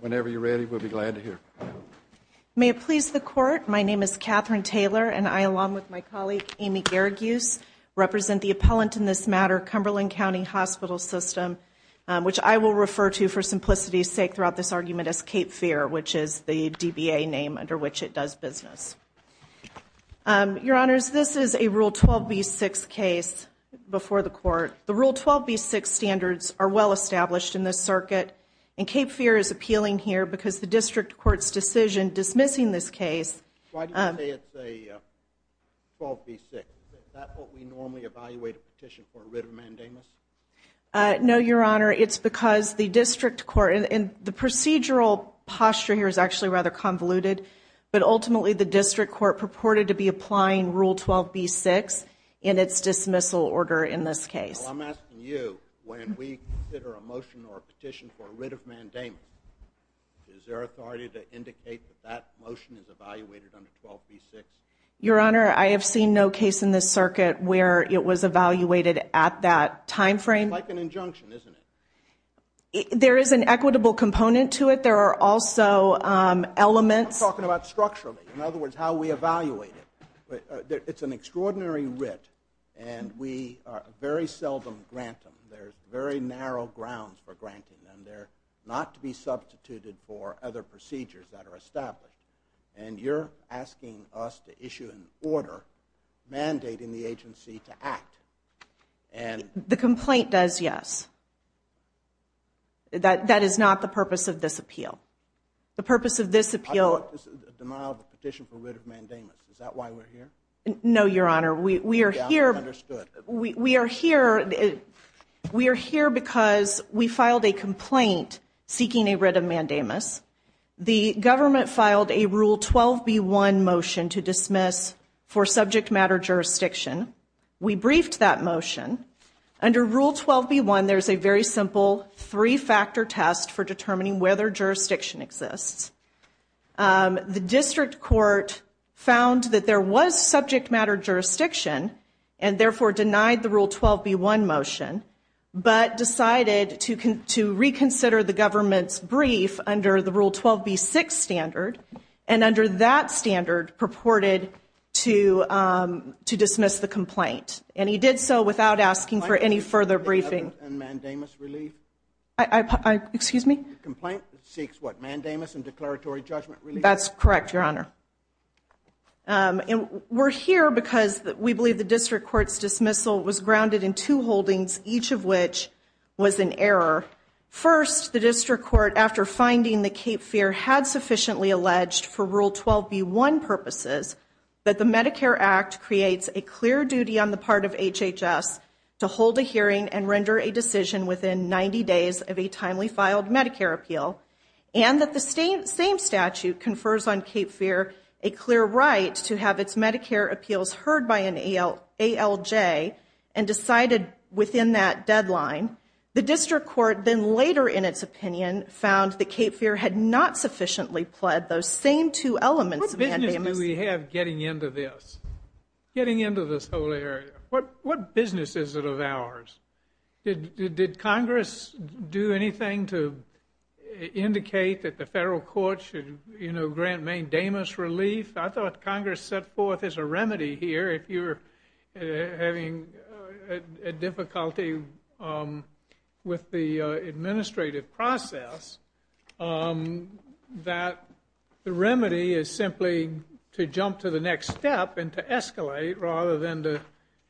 Whenever you're ready, we'll be glad to hear May it please the court. My name is Catherine Taylor and I along with my colleague Amy Garaguse Represent the appellant in this matter Cumberland County Hospital system Which I will refer to for simplicity's sake throughout this argument as Cape Fear, which is the DBA name under which it does business Your honors, this is a rule 12b6 case Before the court the rule 12b6 standards are well established in this circuit and Cape Fear is appealing here because the district court's decision dismissing this case No, your honor it's because the district court and the procedural posture here is actually rather convoluted But ultimately the district court purported to be applying rule 12b6 in its dismissal order in this case Your honor I have seen no case in this circuit where it was evaluated at that time frame There is an equitable component to it there are also Elements talking about structurally in other words how we evaluate it It's an extraordinary writ and we very seldom grant them There's very narrow grounds for granting them there not to be substituted for other procedures that are established And you're asking us to issue an order mandating the agency to act and The complaint does yes That that is not the purpose of this appeal the purpose of this appeal No, your honor we are here we are here We are here because we filed a complaint seeking a writ of mandamus The government filed a rule 12b1 motion to dismiss for subject matter jurisdiction We briefed that motion Under rule 12b1 there's a very simple three-factor test for determining whether jurisdiction exists the district court Found that there was subject matter jurisdiction and therefore denied the rule 12b1 motion but decided to reconsider the government's brief under the rule 12b6 standard and under that standard purported to To dismiss the complaint and he did so without asking for any further briefing Excuse me That's correct your honor And we're here because we believe the district courts dismissal was grounded in two holdings each of which was an error First the district court after finding the Cape Fear had sufficiently alleged for rule 12b1 Purposes that the Medicare Act creates a clear duty on the part of HHS to hold a hearing and render a decision within 90 days of a timely filed Medicare appeal and that the same same statute confers on Cape Fear a clear right to have its Medicare appeals heard by an ALJ and Decided within that deadline the district court then later in its opinion found the Cape Fear had not Sufficiently pled those same two elements Do we have getting into this? Getting into this whole area. What what business is it of ours? Did Congress do anything to? Indicate that the federal court should you know grant main damas relief. I thought Congress set forth as a remedy here if you're having a difficulty with the administrative process that the remedy is simply to jump to the next step and to escalate rather than to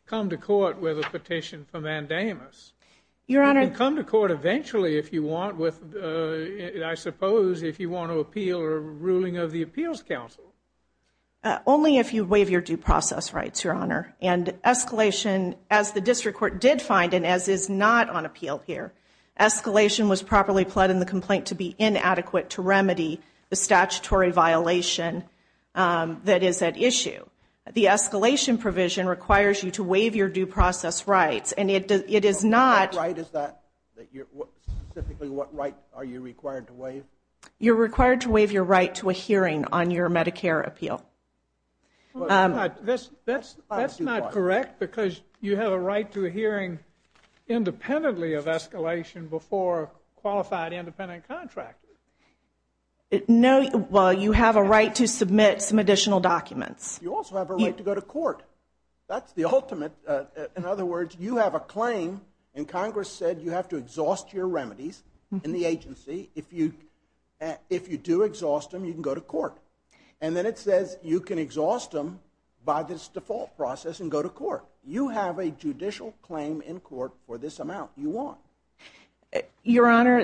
Come to court with a petition for mandamus your honor come to court. Eventually if you want with I suppose if you want to appeal or ruling of the Appeals Council only if you waive your due process rights your honor and Escalation as the district court did find and as is not on appeal here Escalation was properly pled in the complaint to be inadequate to remedy the statutory violation That is at issue the escalation provision requires you to waive your due process rights, and it does it is not right is that? What right are you required to waive you're required to waive your right to a hearing on your Medicare appeal? This that's that's not correct because you have a right to a hearing Independently of escalation before qualified independent contractors It no well you have a right to submit some additional documents. You also have a right to go to court That's the ultimate in other words you have a claim and Congress said you have to exhaust your remedies in the agency if you If you do exhaust them you can go to court And then it says you can exhaust them by this default process and go to court you have a judicial Claim in court for this amount you want your honor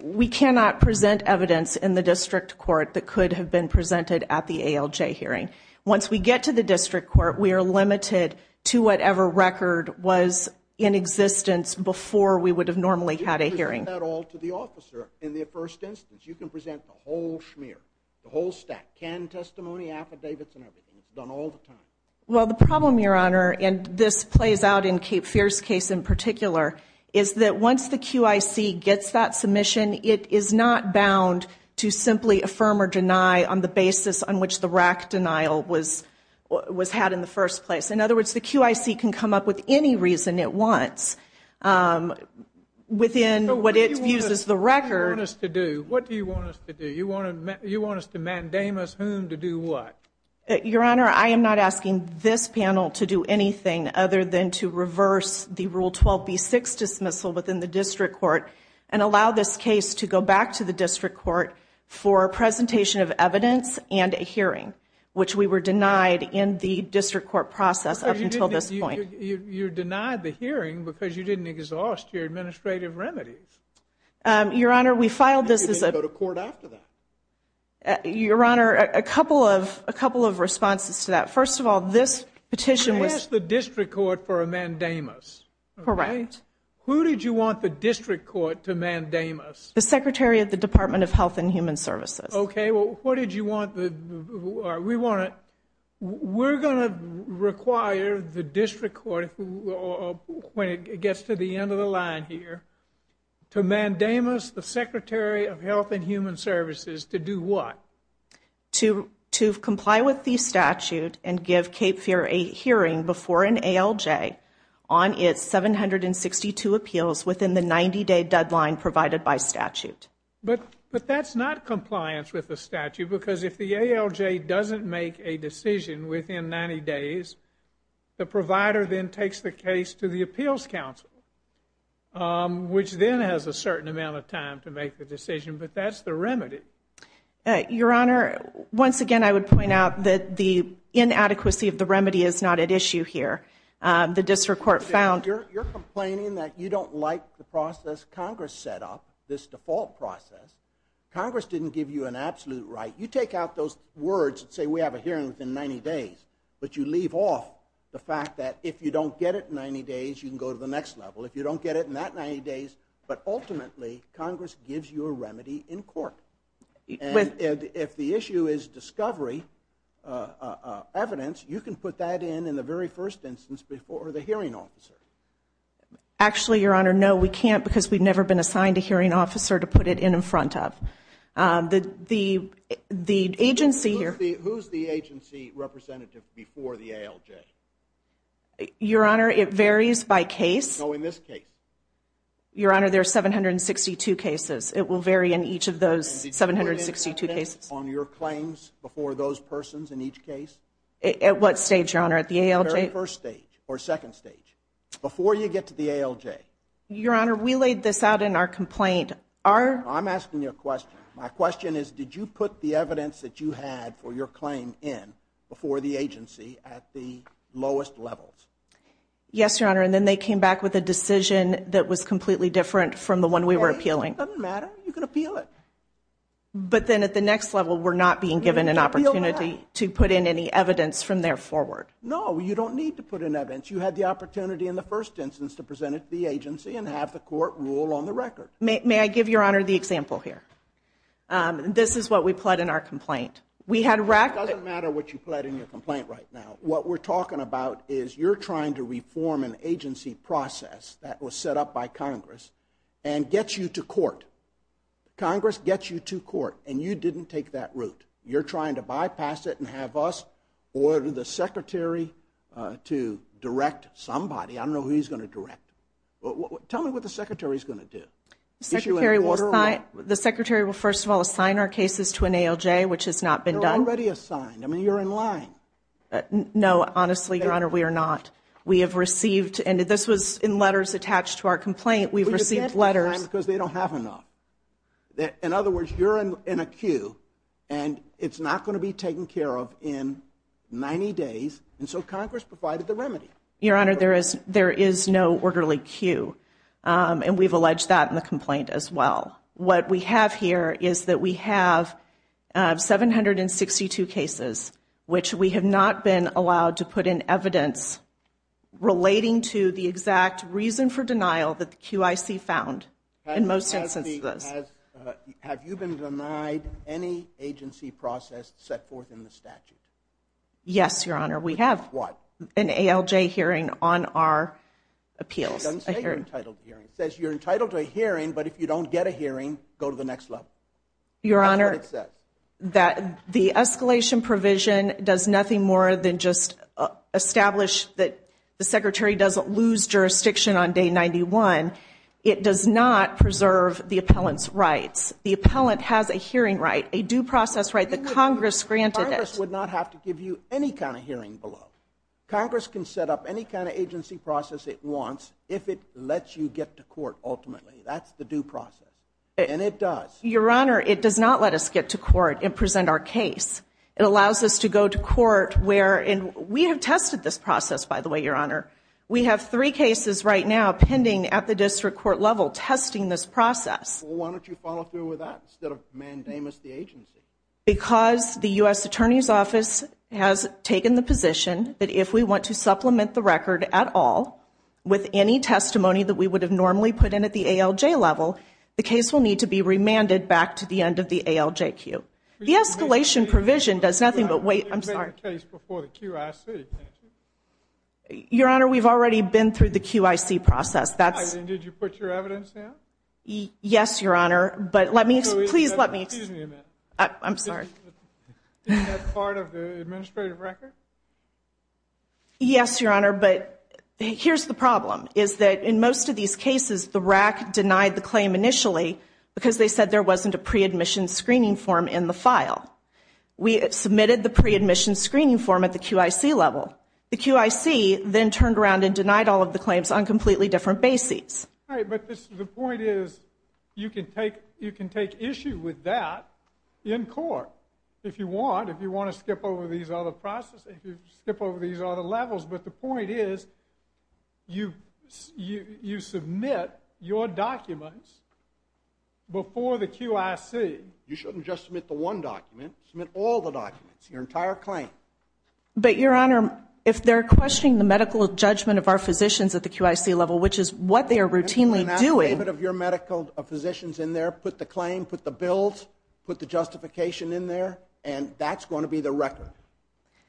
We cannot present evidence in the district court that could have been presented at the ALJ hearing once we get to the district court We are limited to whatever record was in existence before we would have normally had a hearing That all to the officer in the first instance you can present the whole smear the whole stack can testimony affidavits and everything Well the problem your honor and this plays out in Cape Fierce case in particular is that once the QIC gets that submission It is not bound to simply affirm or deny on the basis on which the rack denial was Was had in the first place in other words the QIC can come up with any reason it wants Within what it uses the record is to do what do you want us to do you want to you want us to mandate? To do what your honor I am NOT asking this panel to do anything other than to reverse the rule 12b 6 dismissal within the district court and Allow this case to go back to the district court for a presentation of evidence and a hearing Which we were denied in the district court process until this point you're denied the hearing because you didn't exhaust your administrative remedies Your honor we filed. This is a court after that Your honor a couple of a couple of responses to that first of all this petition was the district court for a mandamus Right who did you want the district court to mandamus the secretary of the Department of Health and Human Services? Okay, well, what did you want the? We want it We're gonna require the district court When it gets to the end of the line here To mandamus the Secretary of Health and Human Services to do what? to to comply with the statute and give Cape Fear a hearing before an ALJ on its 762 appeals within the 90-day deadline provided by statute But but that's not compliance with the statute because if the ALJ doesn't make a decision within 90 days The provider then takes the case to the Appeals Council Which then has a certain amount of time to make the decision, but that's the remedy Your honor once again. I would point out that the inadequacy of the remedy is not at issue here The district court found you're complaining that you don't like the process Congress set up this default process Congress didn't give you an absolute right you take out those words and say we have a hearing within 90 days But you leave off the fact that if you don't get it in 90 days You can go to the next level if you don't get it in that 90 days, but ultimately Congress gives you a remedy in court If the issue is discovery Evidence you can put that in in the very first instance before the hearing officer Actually, your honor. No, we can't because we've never been assigned a hearing officer to put it in in front of the the Agency here Your honor it varies by case Your honor there are 762 cases it will vary in each of those 762 cases on your claims before those persons in each case at what stage your honor at the ALJ first stage or second stage Before you get to the ALJ your honor. We laid this out in our complaint our I'm asking you a question My question is did you put the evidence that you had for your claim in before the agency at the lowest levels? Yes, your honor, and then they came back with a decision that was completely different from the one we were appealing But then at the next level we're not being given an opportunity to put in any evidence from there forward No You don't need to put in evidence you had the opportunity in the first instance to present it to the agency and have the court Rule on the record may I give your honor the example here? This is what we pled in our complaint. We had rack doesn't matter what you pled in your complaint right now What we're talking about is you're trying to reform an agency process that was set up by Congress and gets you to court Congress gets you to court, and you didn't take that route You're trying to bypass it and have us or the secretary to direct somebody I don't know who he's going to direct, but tell me what the secretary is going to do Secretary will sign the secretary will first of all assign our cases to an ALJ, which has not been done already assigned I mean you're in line No, honestly your honor. We are not we have received and this was in letters attached to our complaint We've received letters because they don't have enough That in other words you're in a queue, and it's not going to be taken care of in 90 days and so Congress provided the remedy your honor there is there is no orderly queue And we've alleged that in the complaint as well what we have here is that we have 762 cases which we have not been allowed to put in evidence Relating to the exact reason for denial that the QIC found in most instances Have you been denied any agency process set forth in the statute? Yes, your honor. We have what an ALJ hearing on our Appeals Says you're entitled to a hearing, but if you don't get a hearing go to the next level your honor that the escalation provision does nothing more than just Establish that the secretary doesn't lose jurisdiction on day 91 It does not preserve the appellants rights the appellant has a hearing right a due process right the Congress granted It would not have to give you any kind of hearing below Congress can set up any kind of agency process it wants if it lets you get to court ultimately That's the due process, and it does your honor. It does not let us get to court and present our case It allows us to go to court where and we have tested this process by the way your honor We have three cases right now pending at the district court level testing this process Why don't you follow through with that instead of mandamus the agency because the u.s. Attorney's office has taken the position that if we want to supplement the record at all With any testimony that we would have normally put in at the ALJ level The case will need to be remanded back to the end of the ALJ Q the escalation provision does nothing, but wait I'm sorry Your honor we've already been through the QIC process, that's Yes, your honor, but let me please let me I'm sorry Yes your honor But here's the problem is that in most of these cases the rack denied the claim initially? Because they said there wasn't a pre-admission screening form in the file We submitted the pre-admission screening form at the QIC level the QIC Then turned around and denied all of the claims on completely different bases But this is the point is you can take you can take issue with that In court if you want if you want to skip over these other processes you skip over these other levels, but the point is You you you submit your documents? Before the QIC you shouldn't just submit the one document submit all the documents your entire claim But your honor if they're questioning the medical judgment of our physicians at the QIC level Which is what they are routinely doing a bit of your medical Physicians in there put the claim put the bills put the justification in there, and that's going to be the record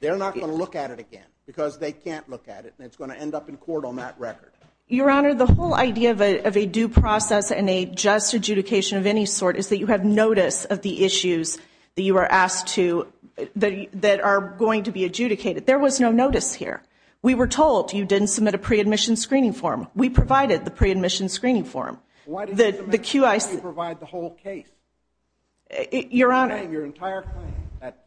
They're not going to look at it again because they can't look at it And it's going to end up in court on that record your honor the whole idea of a due process And a just adjudication of any sort is that you have notice of the issues that you are asked to The that are going to be adjudicated there was no notice here We were told you didn't submit a pre-admission screening form we provided the pre-admission screening form what did the QIC provide the whole case? Your honor your entire claim that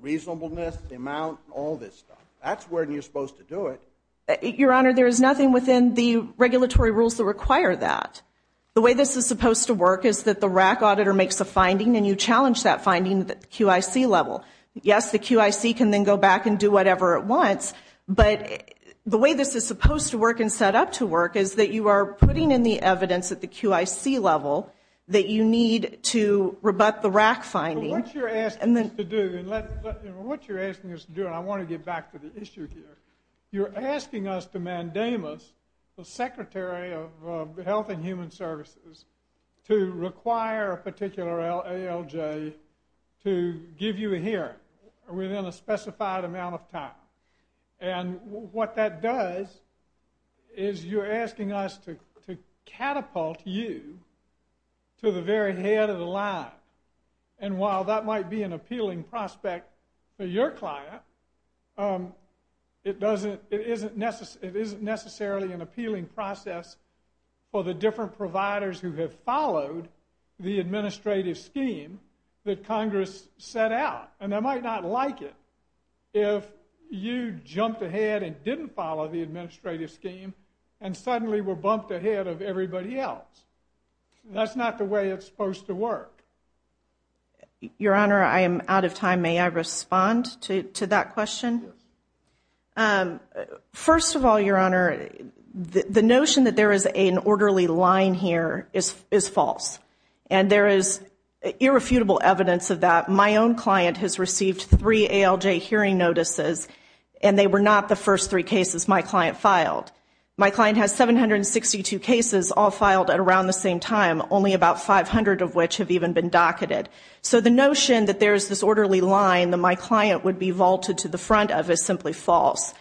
Reasonableness the amount all this stuff. That's where you're supposed to do it your honor There is nothing within the regulatory rules that require that The way this is supposed to work is that the RAC auditor makes a finding and you challenge that finding the QIC level Yes, the QIC can then go back and do whatever it wants But the way this is supposed to work and set up to work is that you are putting in the evidence at the QIC Level that you need to rebut the RAC finding What you're asking us to do and I want to get back to the issue here You're asking us to mandamus the Secretary of Health and Human Services to require a particular ALJ to give you a hearing within a specified amount of time and what that does is You're asking us to catapult you To the very head of the line and while that might be an appealing prospect for your client It doesn't it isn't necessary. It isn't necessarily an appealing process For the different providers who have followed the administrative scheme that Congress set out and they might not like it if You jumped ahead and didn't follow the administrative scheme and suddenly were bumped ahead of everybody else That's not the way it's supposed to work Your honor I am out of time may I respond to that question First of all your honor The notion that there is an orderly line here is is false and there is Irrefutable evidence of that my own client has received three ALJ hearing notices And they were not the first three cases my client filed My client has 762 cases all filed at around the same time only about 500 of which have even been docketed So the notion that there's this orderly line that my client would be vaulted to the front of is simply false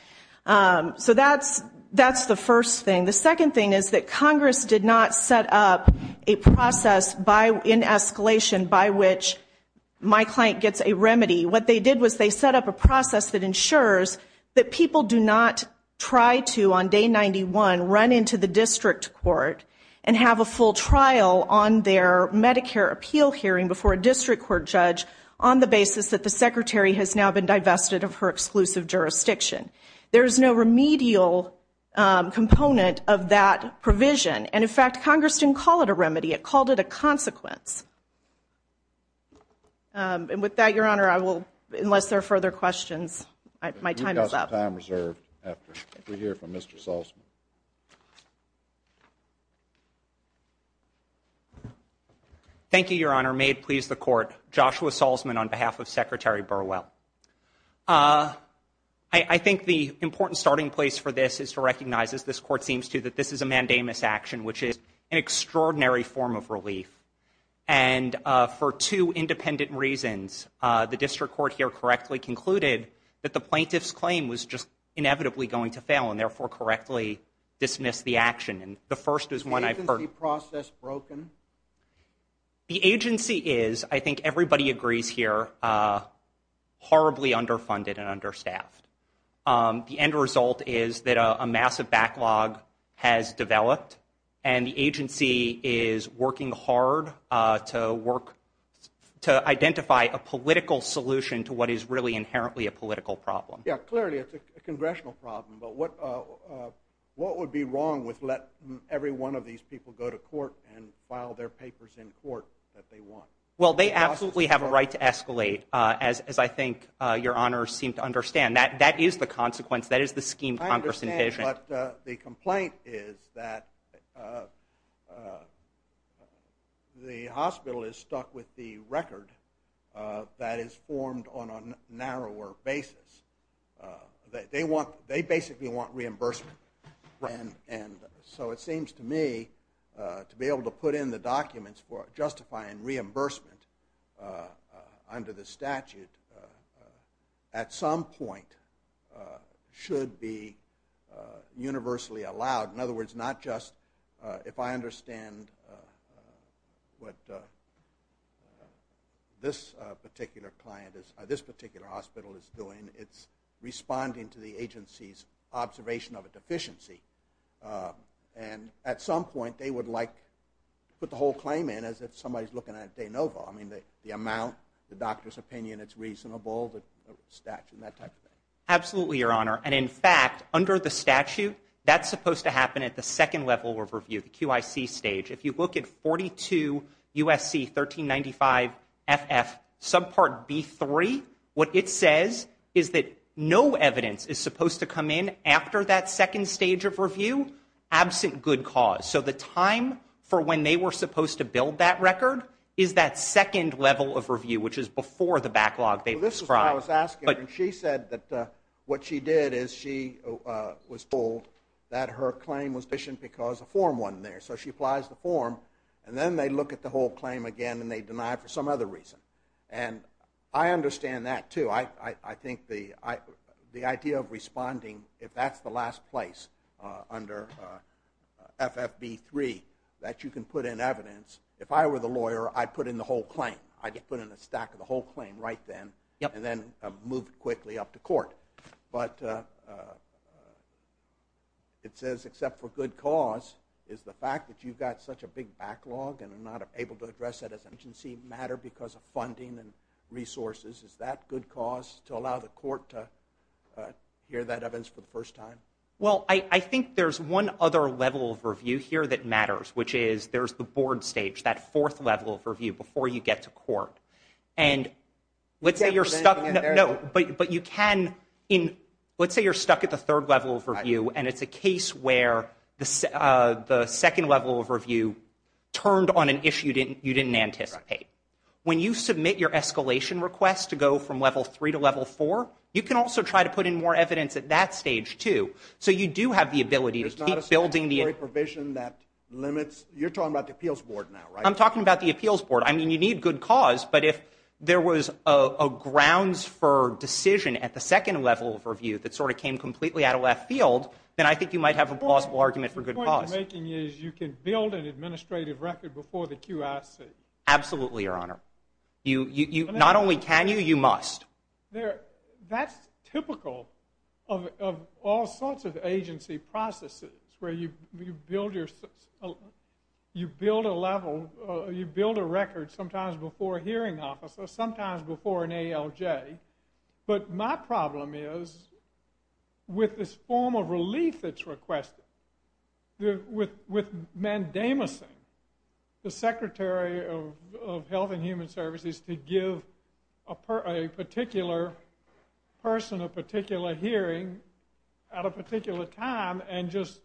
So that's that's the first thing the second thing is that Congress did not set up a process by in escalation by which My client gets a remedy what they did was they set up a process that ensures that people do not Try to on day 91 run into the district court and have a full trial on their Medicare appeal hearing before a district court judge on the basis that the secretary has now been divested of her exclusive jurisdiction There's no remedial Component of that provision and in fact Congress didn't call it a remedy it called it a consequence And with that your honor I will unless there are further questions my time is up Thank You Your Honor made please the court Joshua Salzman on behalf of Secretary Burwell I Think the important starting place for this is to recognize as this court seems to that this is a mandamus action which is an extraordinary form of relief and for two independent reasons The district court here correctly concluded that the plaintiffs claim was just inevitably going to fail and therefore correctly Dismiss the action and the first is when I've heard the process broken The agency is I think everybody agrees here Horribly underfunded and understaffed The end result is that a massive backlog has developed and the agency is working hard to work To identify a political solution to what is really inherently a political problem. Yeah clearly. It's a congressional problem, but what? What would be wrong with let every one of these people go to court and file their papers in court that they want well? They absolutely have a right to escalate as I think your honors seem to understand that that is the consequence that is the scheme Congress in vision, but the complaint is that The hospital is stuck with the record That is formed on a narrower basis That they want they basically want reimbursement And and so it seems to me To be able to put in the documents for justifying reimbursement under the statute at some point should be Universally allowed in other words not just if I understand what This particular client is this particular hospital is doing it's responding to the agency's observation of a deficiency And at some point they would like Put the whole claim in as if somebody's looking at de novo. I mean the amount the doctor's opinion. It's reasonable the statute that Absolutely your honor and in fact under the statute that's supposed to happen at the second level of review the QIC stage if you look at 42 USC 1395 FF subpart B 3 what it says is that no evidence is supposed to come in after that second stage of review Absent good cause so the time for when they were supposed to build that record is that second level of review? Which is before the backlog they describe. I was asking but she said that what she did is she Was told that her claim was vision because a form wasn't there so she applies the form And then they look at the whole claim again, and they deny for some other reason and I understand that too I I think the I the idea of responding if that's the last place under FFB 3 that you can put in evidence if I were the lawyer I put in the whole claim I get put in a stack of the whole claim right then yep, and then move quickly up to court, but It says except for good cause is the fact that you've got such a big backlog And I'm not able to address that as an agency matter because of funding and resources is that good cause to allow the court to? Hear that Evans for the first time well I I think there's one other level of review here that matters which is there's the board stage that fourth level of review before you get to court and Let's say you're stuck no, but but you can in let's say you're stuck at the third level for you And it's a case where the second level of review Turned on an issue didn't you didn't anticipate when you submit your escalation request to go from level 3 to level 4 You can also try to put in more evidence at that stage, too So you do have the ability to keep building the a provision that limits you're talking about the appeals board now, right? I'm talking about the appeals board I mean you need good cause, but if there was a grounds for Decision at the second level of review that sort of came completely out of left field Then I think you might have a possible argument for good cause You can build an administrative record before the QIC Absolutely your honor you you not only can you you must there? That's typical of all sorts of agency processes where you build your You build a level you build a record sometimes before hearing officer sometimes before an ALJ but my problem is With this form of relief that's requested the with with mandamus in the Secretary of Health and Human Services to give a Particular person a particular hearing at a particular time and just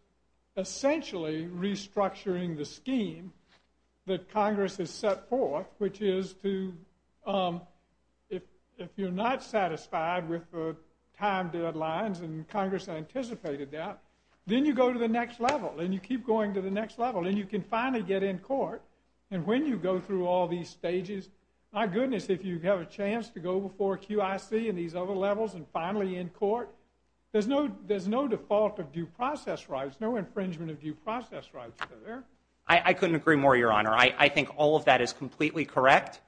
essentially restructuring the scheme that Congress has set forth which is to If you're not satisfied with the time deadlines and Congress anticipated that Then you go to the next level and you keep going to the next level and you can finally get in court And when you go through all these stages My goodness, if you have a chance to go before QIC and these other levels and finally in court There's no there's no default of due process rights. No infringement of due process rights there I I couldn't agree more your honor. I I think all of that is completely correct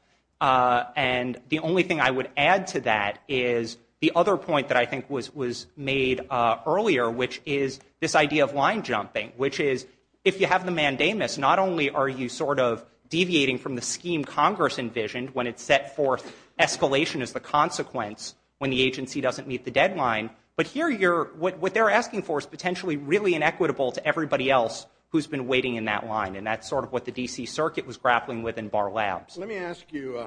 And the only thing I would add to that is the other point that I think was was made Earlier, which is this idea of line jumping which is if you have the mandamus Not only are you sort of deviating from the scheme Congress envisioned when it's set forth Escalation as the consequence when the agency doesn't meet the deadline But here you're what they're asking for is potentially really inequitable to everybody else Who's been waiting in that line and that's sort of what the DC Circuit was grappling with in bar labs. Let me ask you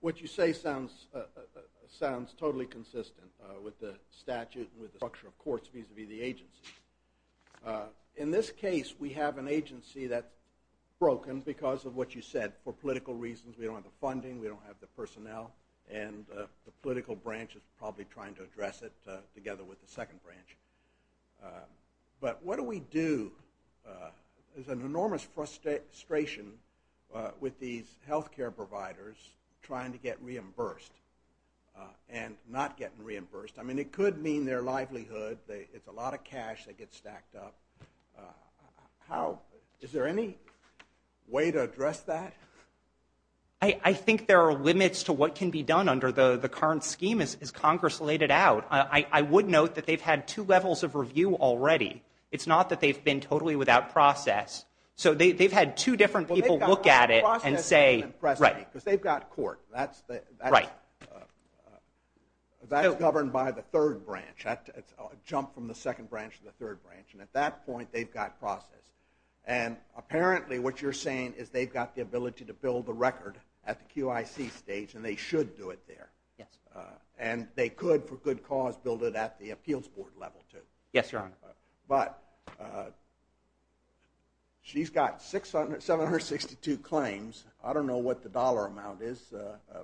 What you say sounds sounds totally consistent with the statute with the structure of courts vis-a-vis the agency In this case, we have an agency that Broken because of what you said for political reasons. We don't have the funding We don't have the personnel and the political branch is probably trying to address it together with the second branch But what do we do? There's an enormous frustration With these health care providers trying to get reimbursed And not getting reimbursed, I mean it could mean their livelihood they it's a lot of cash that gets stacked up How is there any? way to address that I Think there are limits to what can be done under the the current scheme as Congress laid it out I would note that they've had two levels of review already. It's not that they've been totally without process So they've had two different people look at it and say right because they've got court Right That is governed by the third branch at a jump from the second branch to the third branch and at that point they've got process and Apparently what you're saying is they've got the ability to build the record at the QIC stage and they should do it there Yes, and they could for good cause build it at the appeals board level too. Yes, Your Honor, but She's got six hundred seven hundred sixty two claims. I don't know what the dollar amount is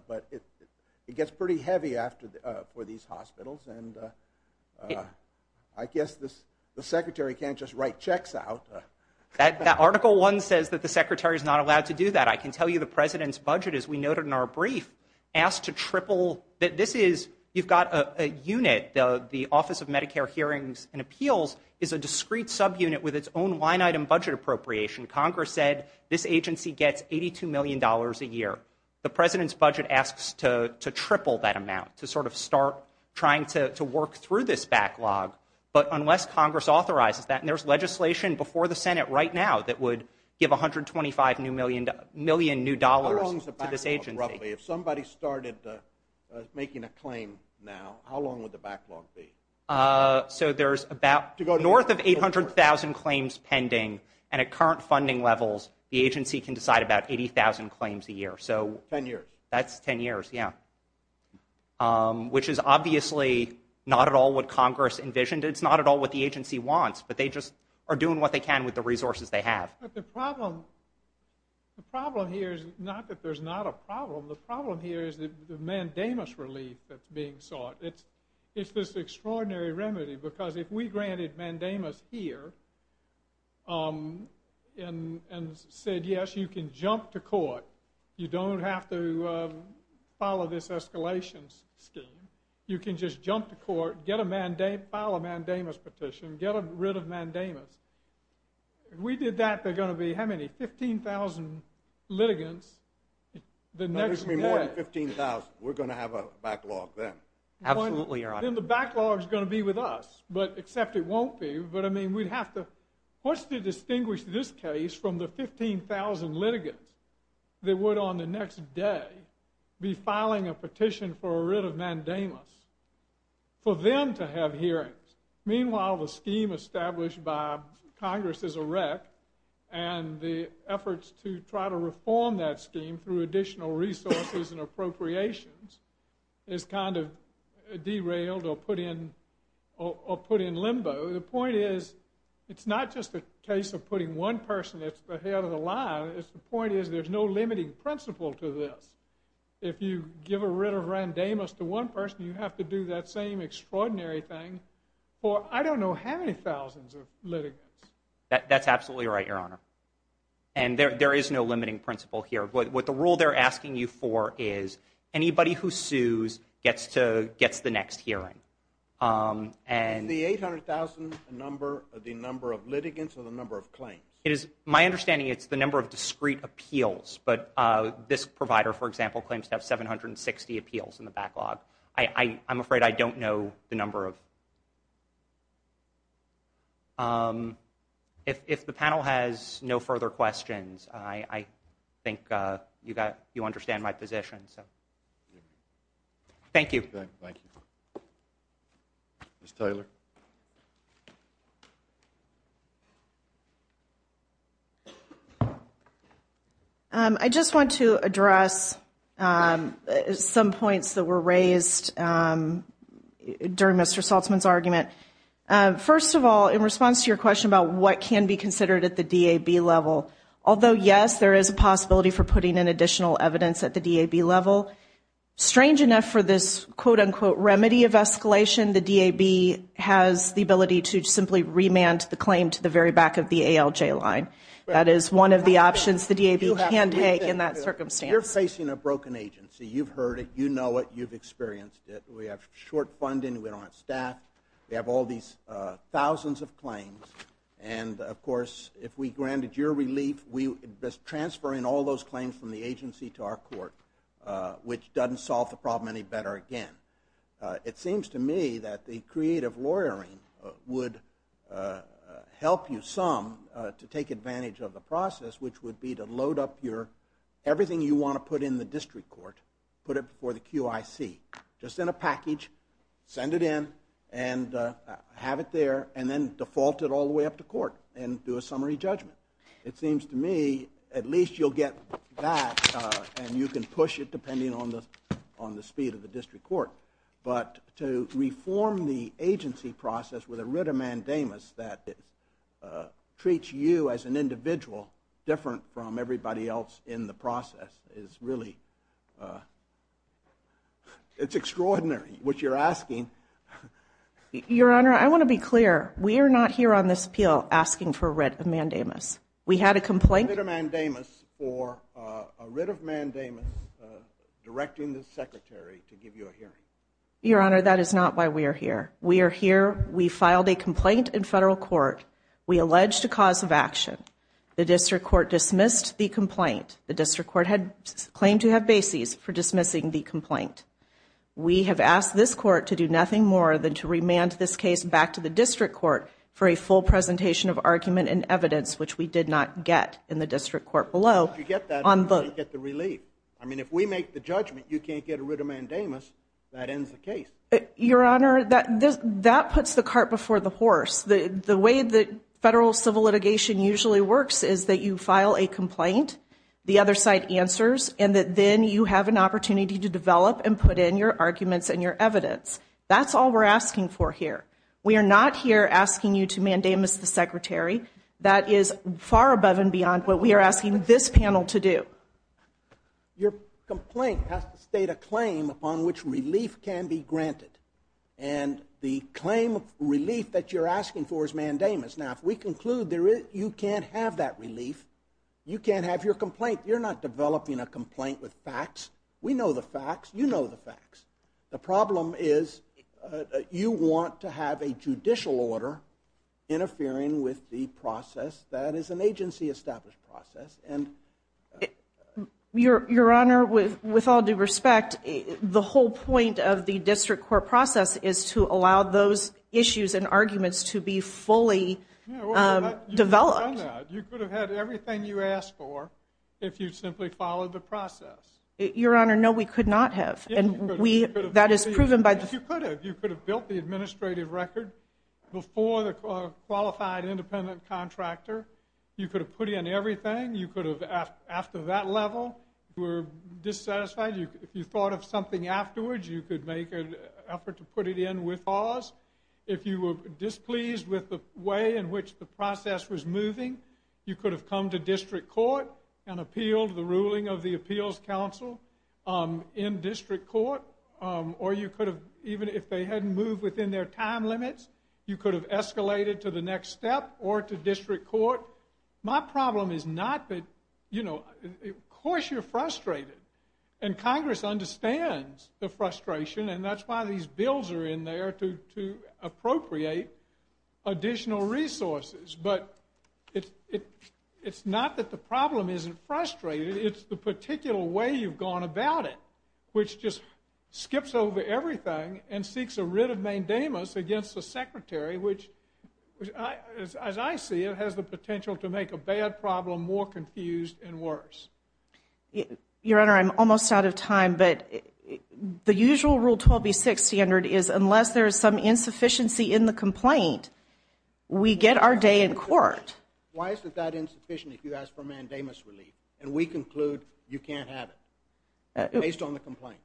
but it it gets pretty heavy after for these hospitals and I Guess this the secretary can't just write checks out That that article one says that the secretary is not allowed to do that I can tell you the president's budget as we noted in our brief Asked to triple that this is you've got a unit though The Office of Medicare hearings and appeals is a discrete subunit with its own line item budget appropriation Congress said this agency gets eighty two million dollars a year The president's budget asks to triple that amount to sort of start trying to work through this backlog but unless Congress authorizes that and there's legislation before the Senate right now that would give 125 new million million new dollars to this agency. If somebody started Making a claim now, how long would the backlog be? So there's about to go north of 800,000 claims pending and at current funding levels the agency can decide about 80,000 claims a year. So ten years. That's ten years. Yeah Which is obviously not at all what Congress envisioned It's not at all what the agency wants, but they just are doing what they can with the resources they have The problem here is not that there's not a problem the problem here is the mandamus relief that's being sought It's this extraordinary remedy because if we granted mandamus here And and said yes, you can jump to court you don't have to Follow this escalation scheme. You can just jump to court get a mandate file a mandamus petition get rid of mandamus We did that they're going to be how many? 15,000 litigants The next 15,000 we're going to have a backlog then Absolutely, your honor the backlog is going to be with us, but except it won't be but I mean we'd have to What's to distinguish this case from the 15,000 litigants? They would on the next day be filing a petition for a writ of mandamus for them to have hearings meanwhile the scheme established by Congress is a wreck and the efforts to try to reform that scheme through additional resources and appropriations is kind of derailed or put in or Put in limbo the point is it's not just a case of putting one person It's the head of the line is the point is there's no limiting principle to this If you give a writ of randamus to one person you have to do that same extraordinary thing Or I don't know how many thousands of litigants. That's absolutely right your honor And there is no limiting principle here what the rule they're asking you for is Anybody who sues gets to gets the next hearing? and the 800,000 number of the number of litigants or the number of claims it is my understanding It's the number of discrete appeals, but this provider for example claims to have 760 appeals in the backlog I I'm afraid I don't know the number of If The panel has no further questions, I I think you got you understand my position, so Thank you Mr.. Taylor I Just want to address Some points that were raised During mr. Saltzman's argument First of all in response to your question about what can be considered at the DAB level although Yes, there is a possibility for putting in additional evidence at the DAB level strange enough for this quote-unquote remedy of escalation the DAB has the ability to simply Remand the claim to the very back of the ALJ line that is one of the options the DAB can take in that We have short funding we don't have staff we have all these Thousands of claims and of course if we granted your relief. We just transfer in all those claims from the agency to our court Which doesn't solve the problem any better again? It seems to me that the creative lawyering would Help you some to take advantage of the process which would be to load up your Everything you want to put in the district court put it before the QIC just in a package send it in and Have it there, and then default it all the way up to court and do a summary judgment It seems to me at least you'll get that And you can push it depending on the on the speed of the district court But to reform the agency process with a writ of mandamus that it Treats you as an individual different from everybody else in the process is really It's extraordinary what you're asking Your honor. I want to be clear. We are not here on this appeal asking for writ of mandamus We had a complaint a mandamus or a writ of mandamus Directing the secretary to give you a hearing your honor. That is not why we are here. We are here We filed a complaint in federal court We alleged a cause of action the district court dismissed the complaint the district court had Claimed to have bases for dismissing the complaint We have asked this court to do nothing more than to remand this case back to the district court for a full Presentation of argument and evidence which we did not get in the district court below on the get the relief I mean if we make the judgment you can't get a writ of mandamus that ends the case Your honor that this that puts the cart before the horse the the way the federal civil litigation usually works is that you file a complaint the other side answers and that then you have an Opportunity to develop and put in your arguments and your evidence. That's all we're asking for here We are not here asking you to mandamus the secretary that is far above and beyond what we are asking this panel to do Your complaint has to state a claim upon which relief can be granted and The claim of relief that you're asking for is mandamus now if we conclude there is you can't have that relief You can't have your complaint. You're not developing a complaint with facts. We know the facts. You know the facts the problem is You want to have a judicial order? interfering with the process that is an agency established process and Your your honor with with all due respect The whole point of the district court process is to allow those issues and arguments to be fully Developed you could have had everything you asked for if you simply followed the process your honor No, we could not have and we that is proven by the you could have you could have built the administrative record Before the qualified independent contractor you could have put in everything you could have asked after that level We're dissatisfied you if you thought of something afterwards You could make an effort to put it in with pause If you were displeased with the way in which the process was moving You could have come to district court and appealed the ruling of the Appeals Council In district court or you could have even if they hadn't moved within their time limits You could have escalated to the next step or to district court. My problem is not that you know Course you're frustrated and Congress understands the frustration and that's why these bills are in there to appropriate Additional resources, but it's it. It's not that the problem isn't frustrated It's the particular way you've gone about it which just skips over everything and seeks a writ of mandamus against the secretary which As I see it has the potential to make a bad problem more confused and worse Your honor. I'm almost out of time, but The usual rule 12b 6 standard is unless there is some insufficiency in the complaint We get our day in court Why is it that insufficient if you ask for mandamus relief and we conclude you can't have it based on the complaint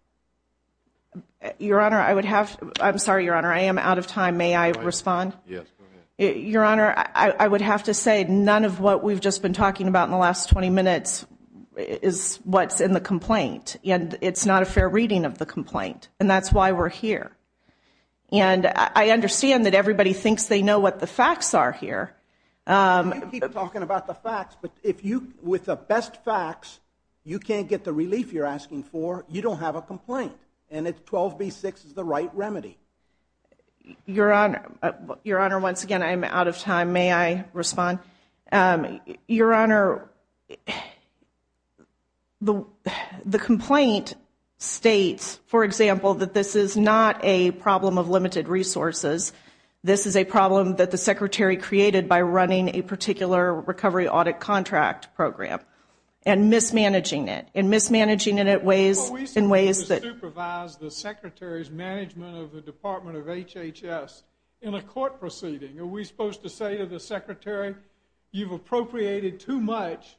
Your honor. I would have I'm sorry your honor. I am out of time. May I respond? Yes Your honor. I would have to say none of what we've just been talking about in the last 20 minutes Is what's in the complaint and it's not a fair reading of the complaint and that's why we're here And I understand that everybody thinks they know what the facts are here Talking about the facts, but if you with the best facts, you can't get the relief You're asking for you don't have a complaint and it's 12b 6 is the right remedy Your honor your honor. Once again, I'm out of time. May I respond? your honor The the complaint States for example that this is not a problem of limited resources This is a problem that the secretary created by running a particular recovery audit contract program and mismanaging it and mismanaging it at ways in ways that Secretaries management of the Department of HHS in a court proceeding. Are we supposed to say to the secretary? You've appropriated too much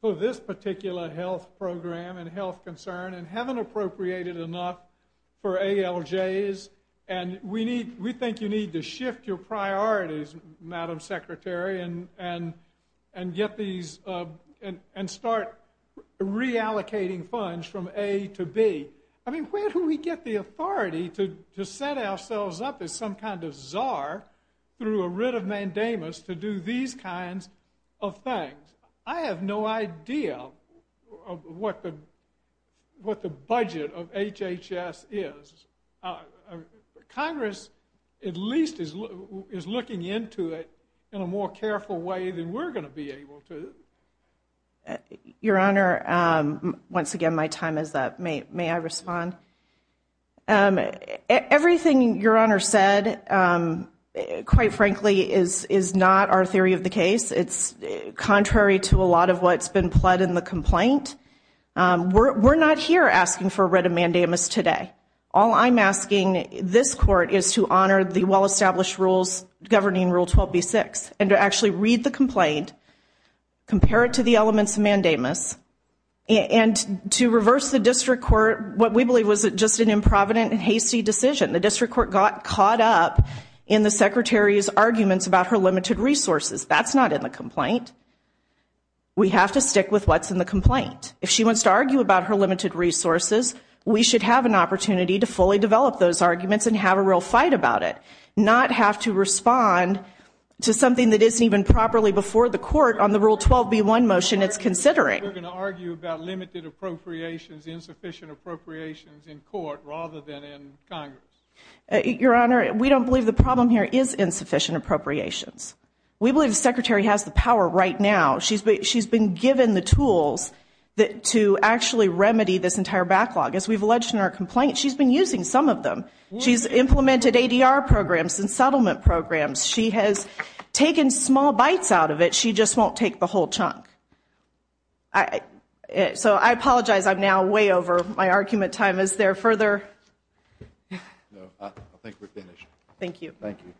for this particular health program and health concern and haven't appropriated enough for ALJ's and we need we think you need to shift your priorities madam secretary and and and get these and and start Reallocating funds from a to B. I mean where do we get the authority to set ourselves up as some kind of czar? Through a writ of mandamus to do these kinds of things. I have no idea what the Budget of HHS is Congress at least is looking into it in a more careful way than we're going to be able to Your honor once again, my time is that mate may I respond Everything your honor said Quite frankly is is not our theory of the case. It's contrary to a lot of what's been pled in the complaint We're not here asking for a writ of mandamus today All I'm asking this court is to honor the well-established rules governing rule 12 b6 and to actually read the complaint Compare it to the elements of mandamus And to reverse the district court what we believe was just an improvident and hasty decision The district court got caught up in the secretary's arguments about her limited resources. That's not in the complaint We have to stick with what's in the complaint if she wants to argue about her limited resources We should have an opportunity to fully develop those arguments and have a real fight about it not have to respond To something that isn't even properly before the court on the rule 12 b1 motion. It's considering Argue about limited appropriations insufficient appropriations in court rather than in Congress Your honor. We don't believe the problem here is insufficient appropriations. We believe the secretary has the power right now She's but she's been given the tools That to actually remedy this entire backlog as we've alleged in our complaint. She's been using some of them She's implemented ADR programs and settlement programs. She has taken small bites out of it. She just won't take the whole chunk. I So I apologize I'm now way over my argument time is there further Thank you, thank you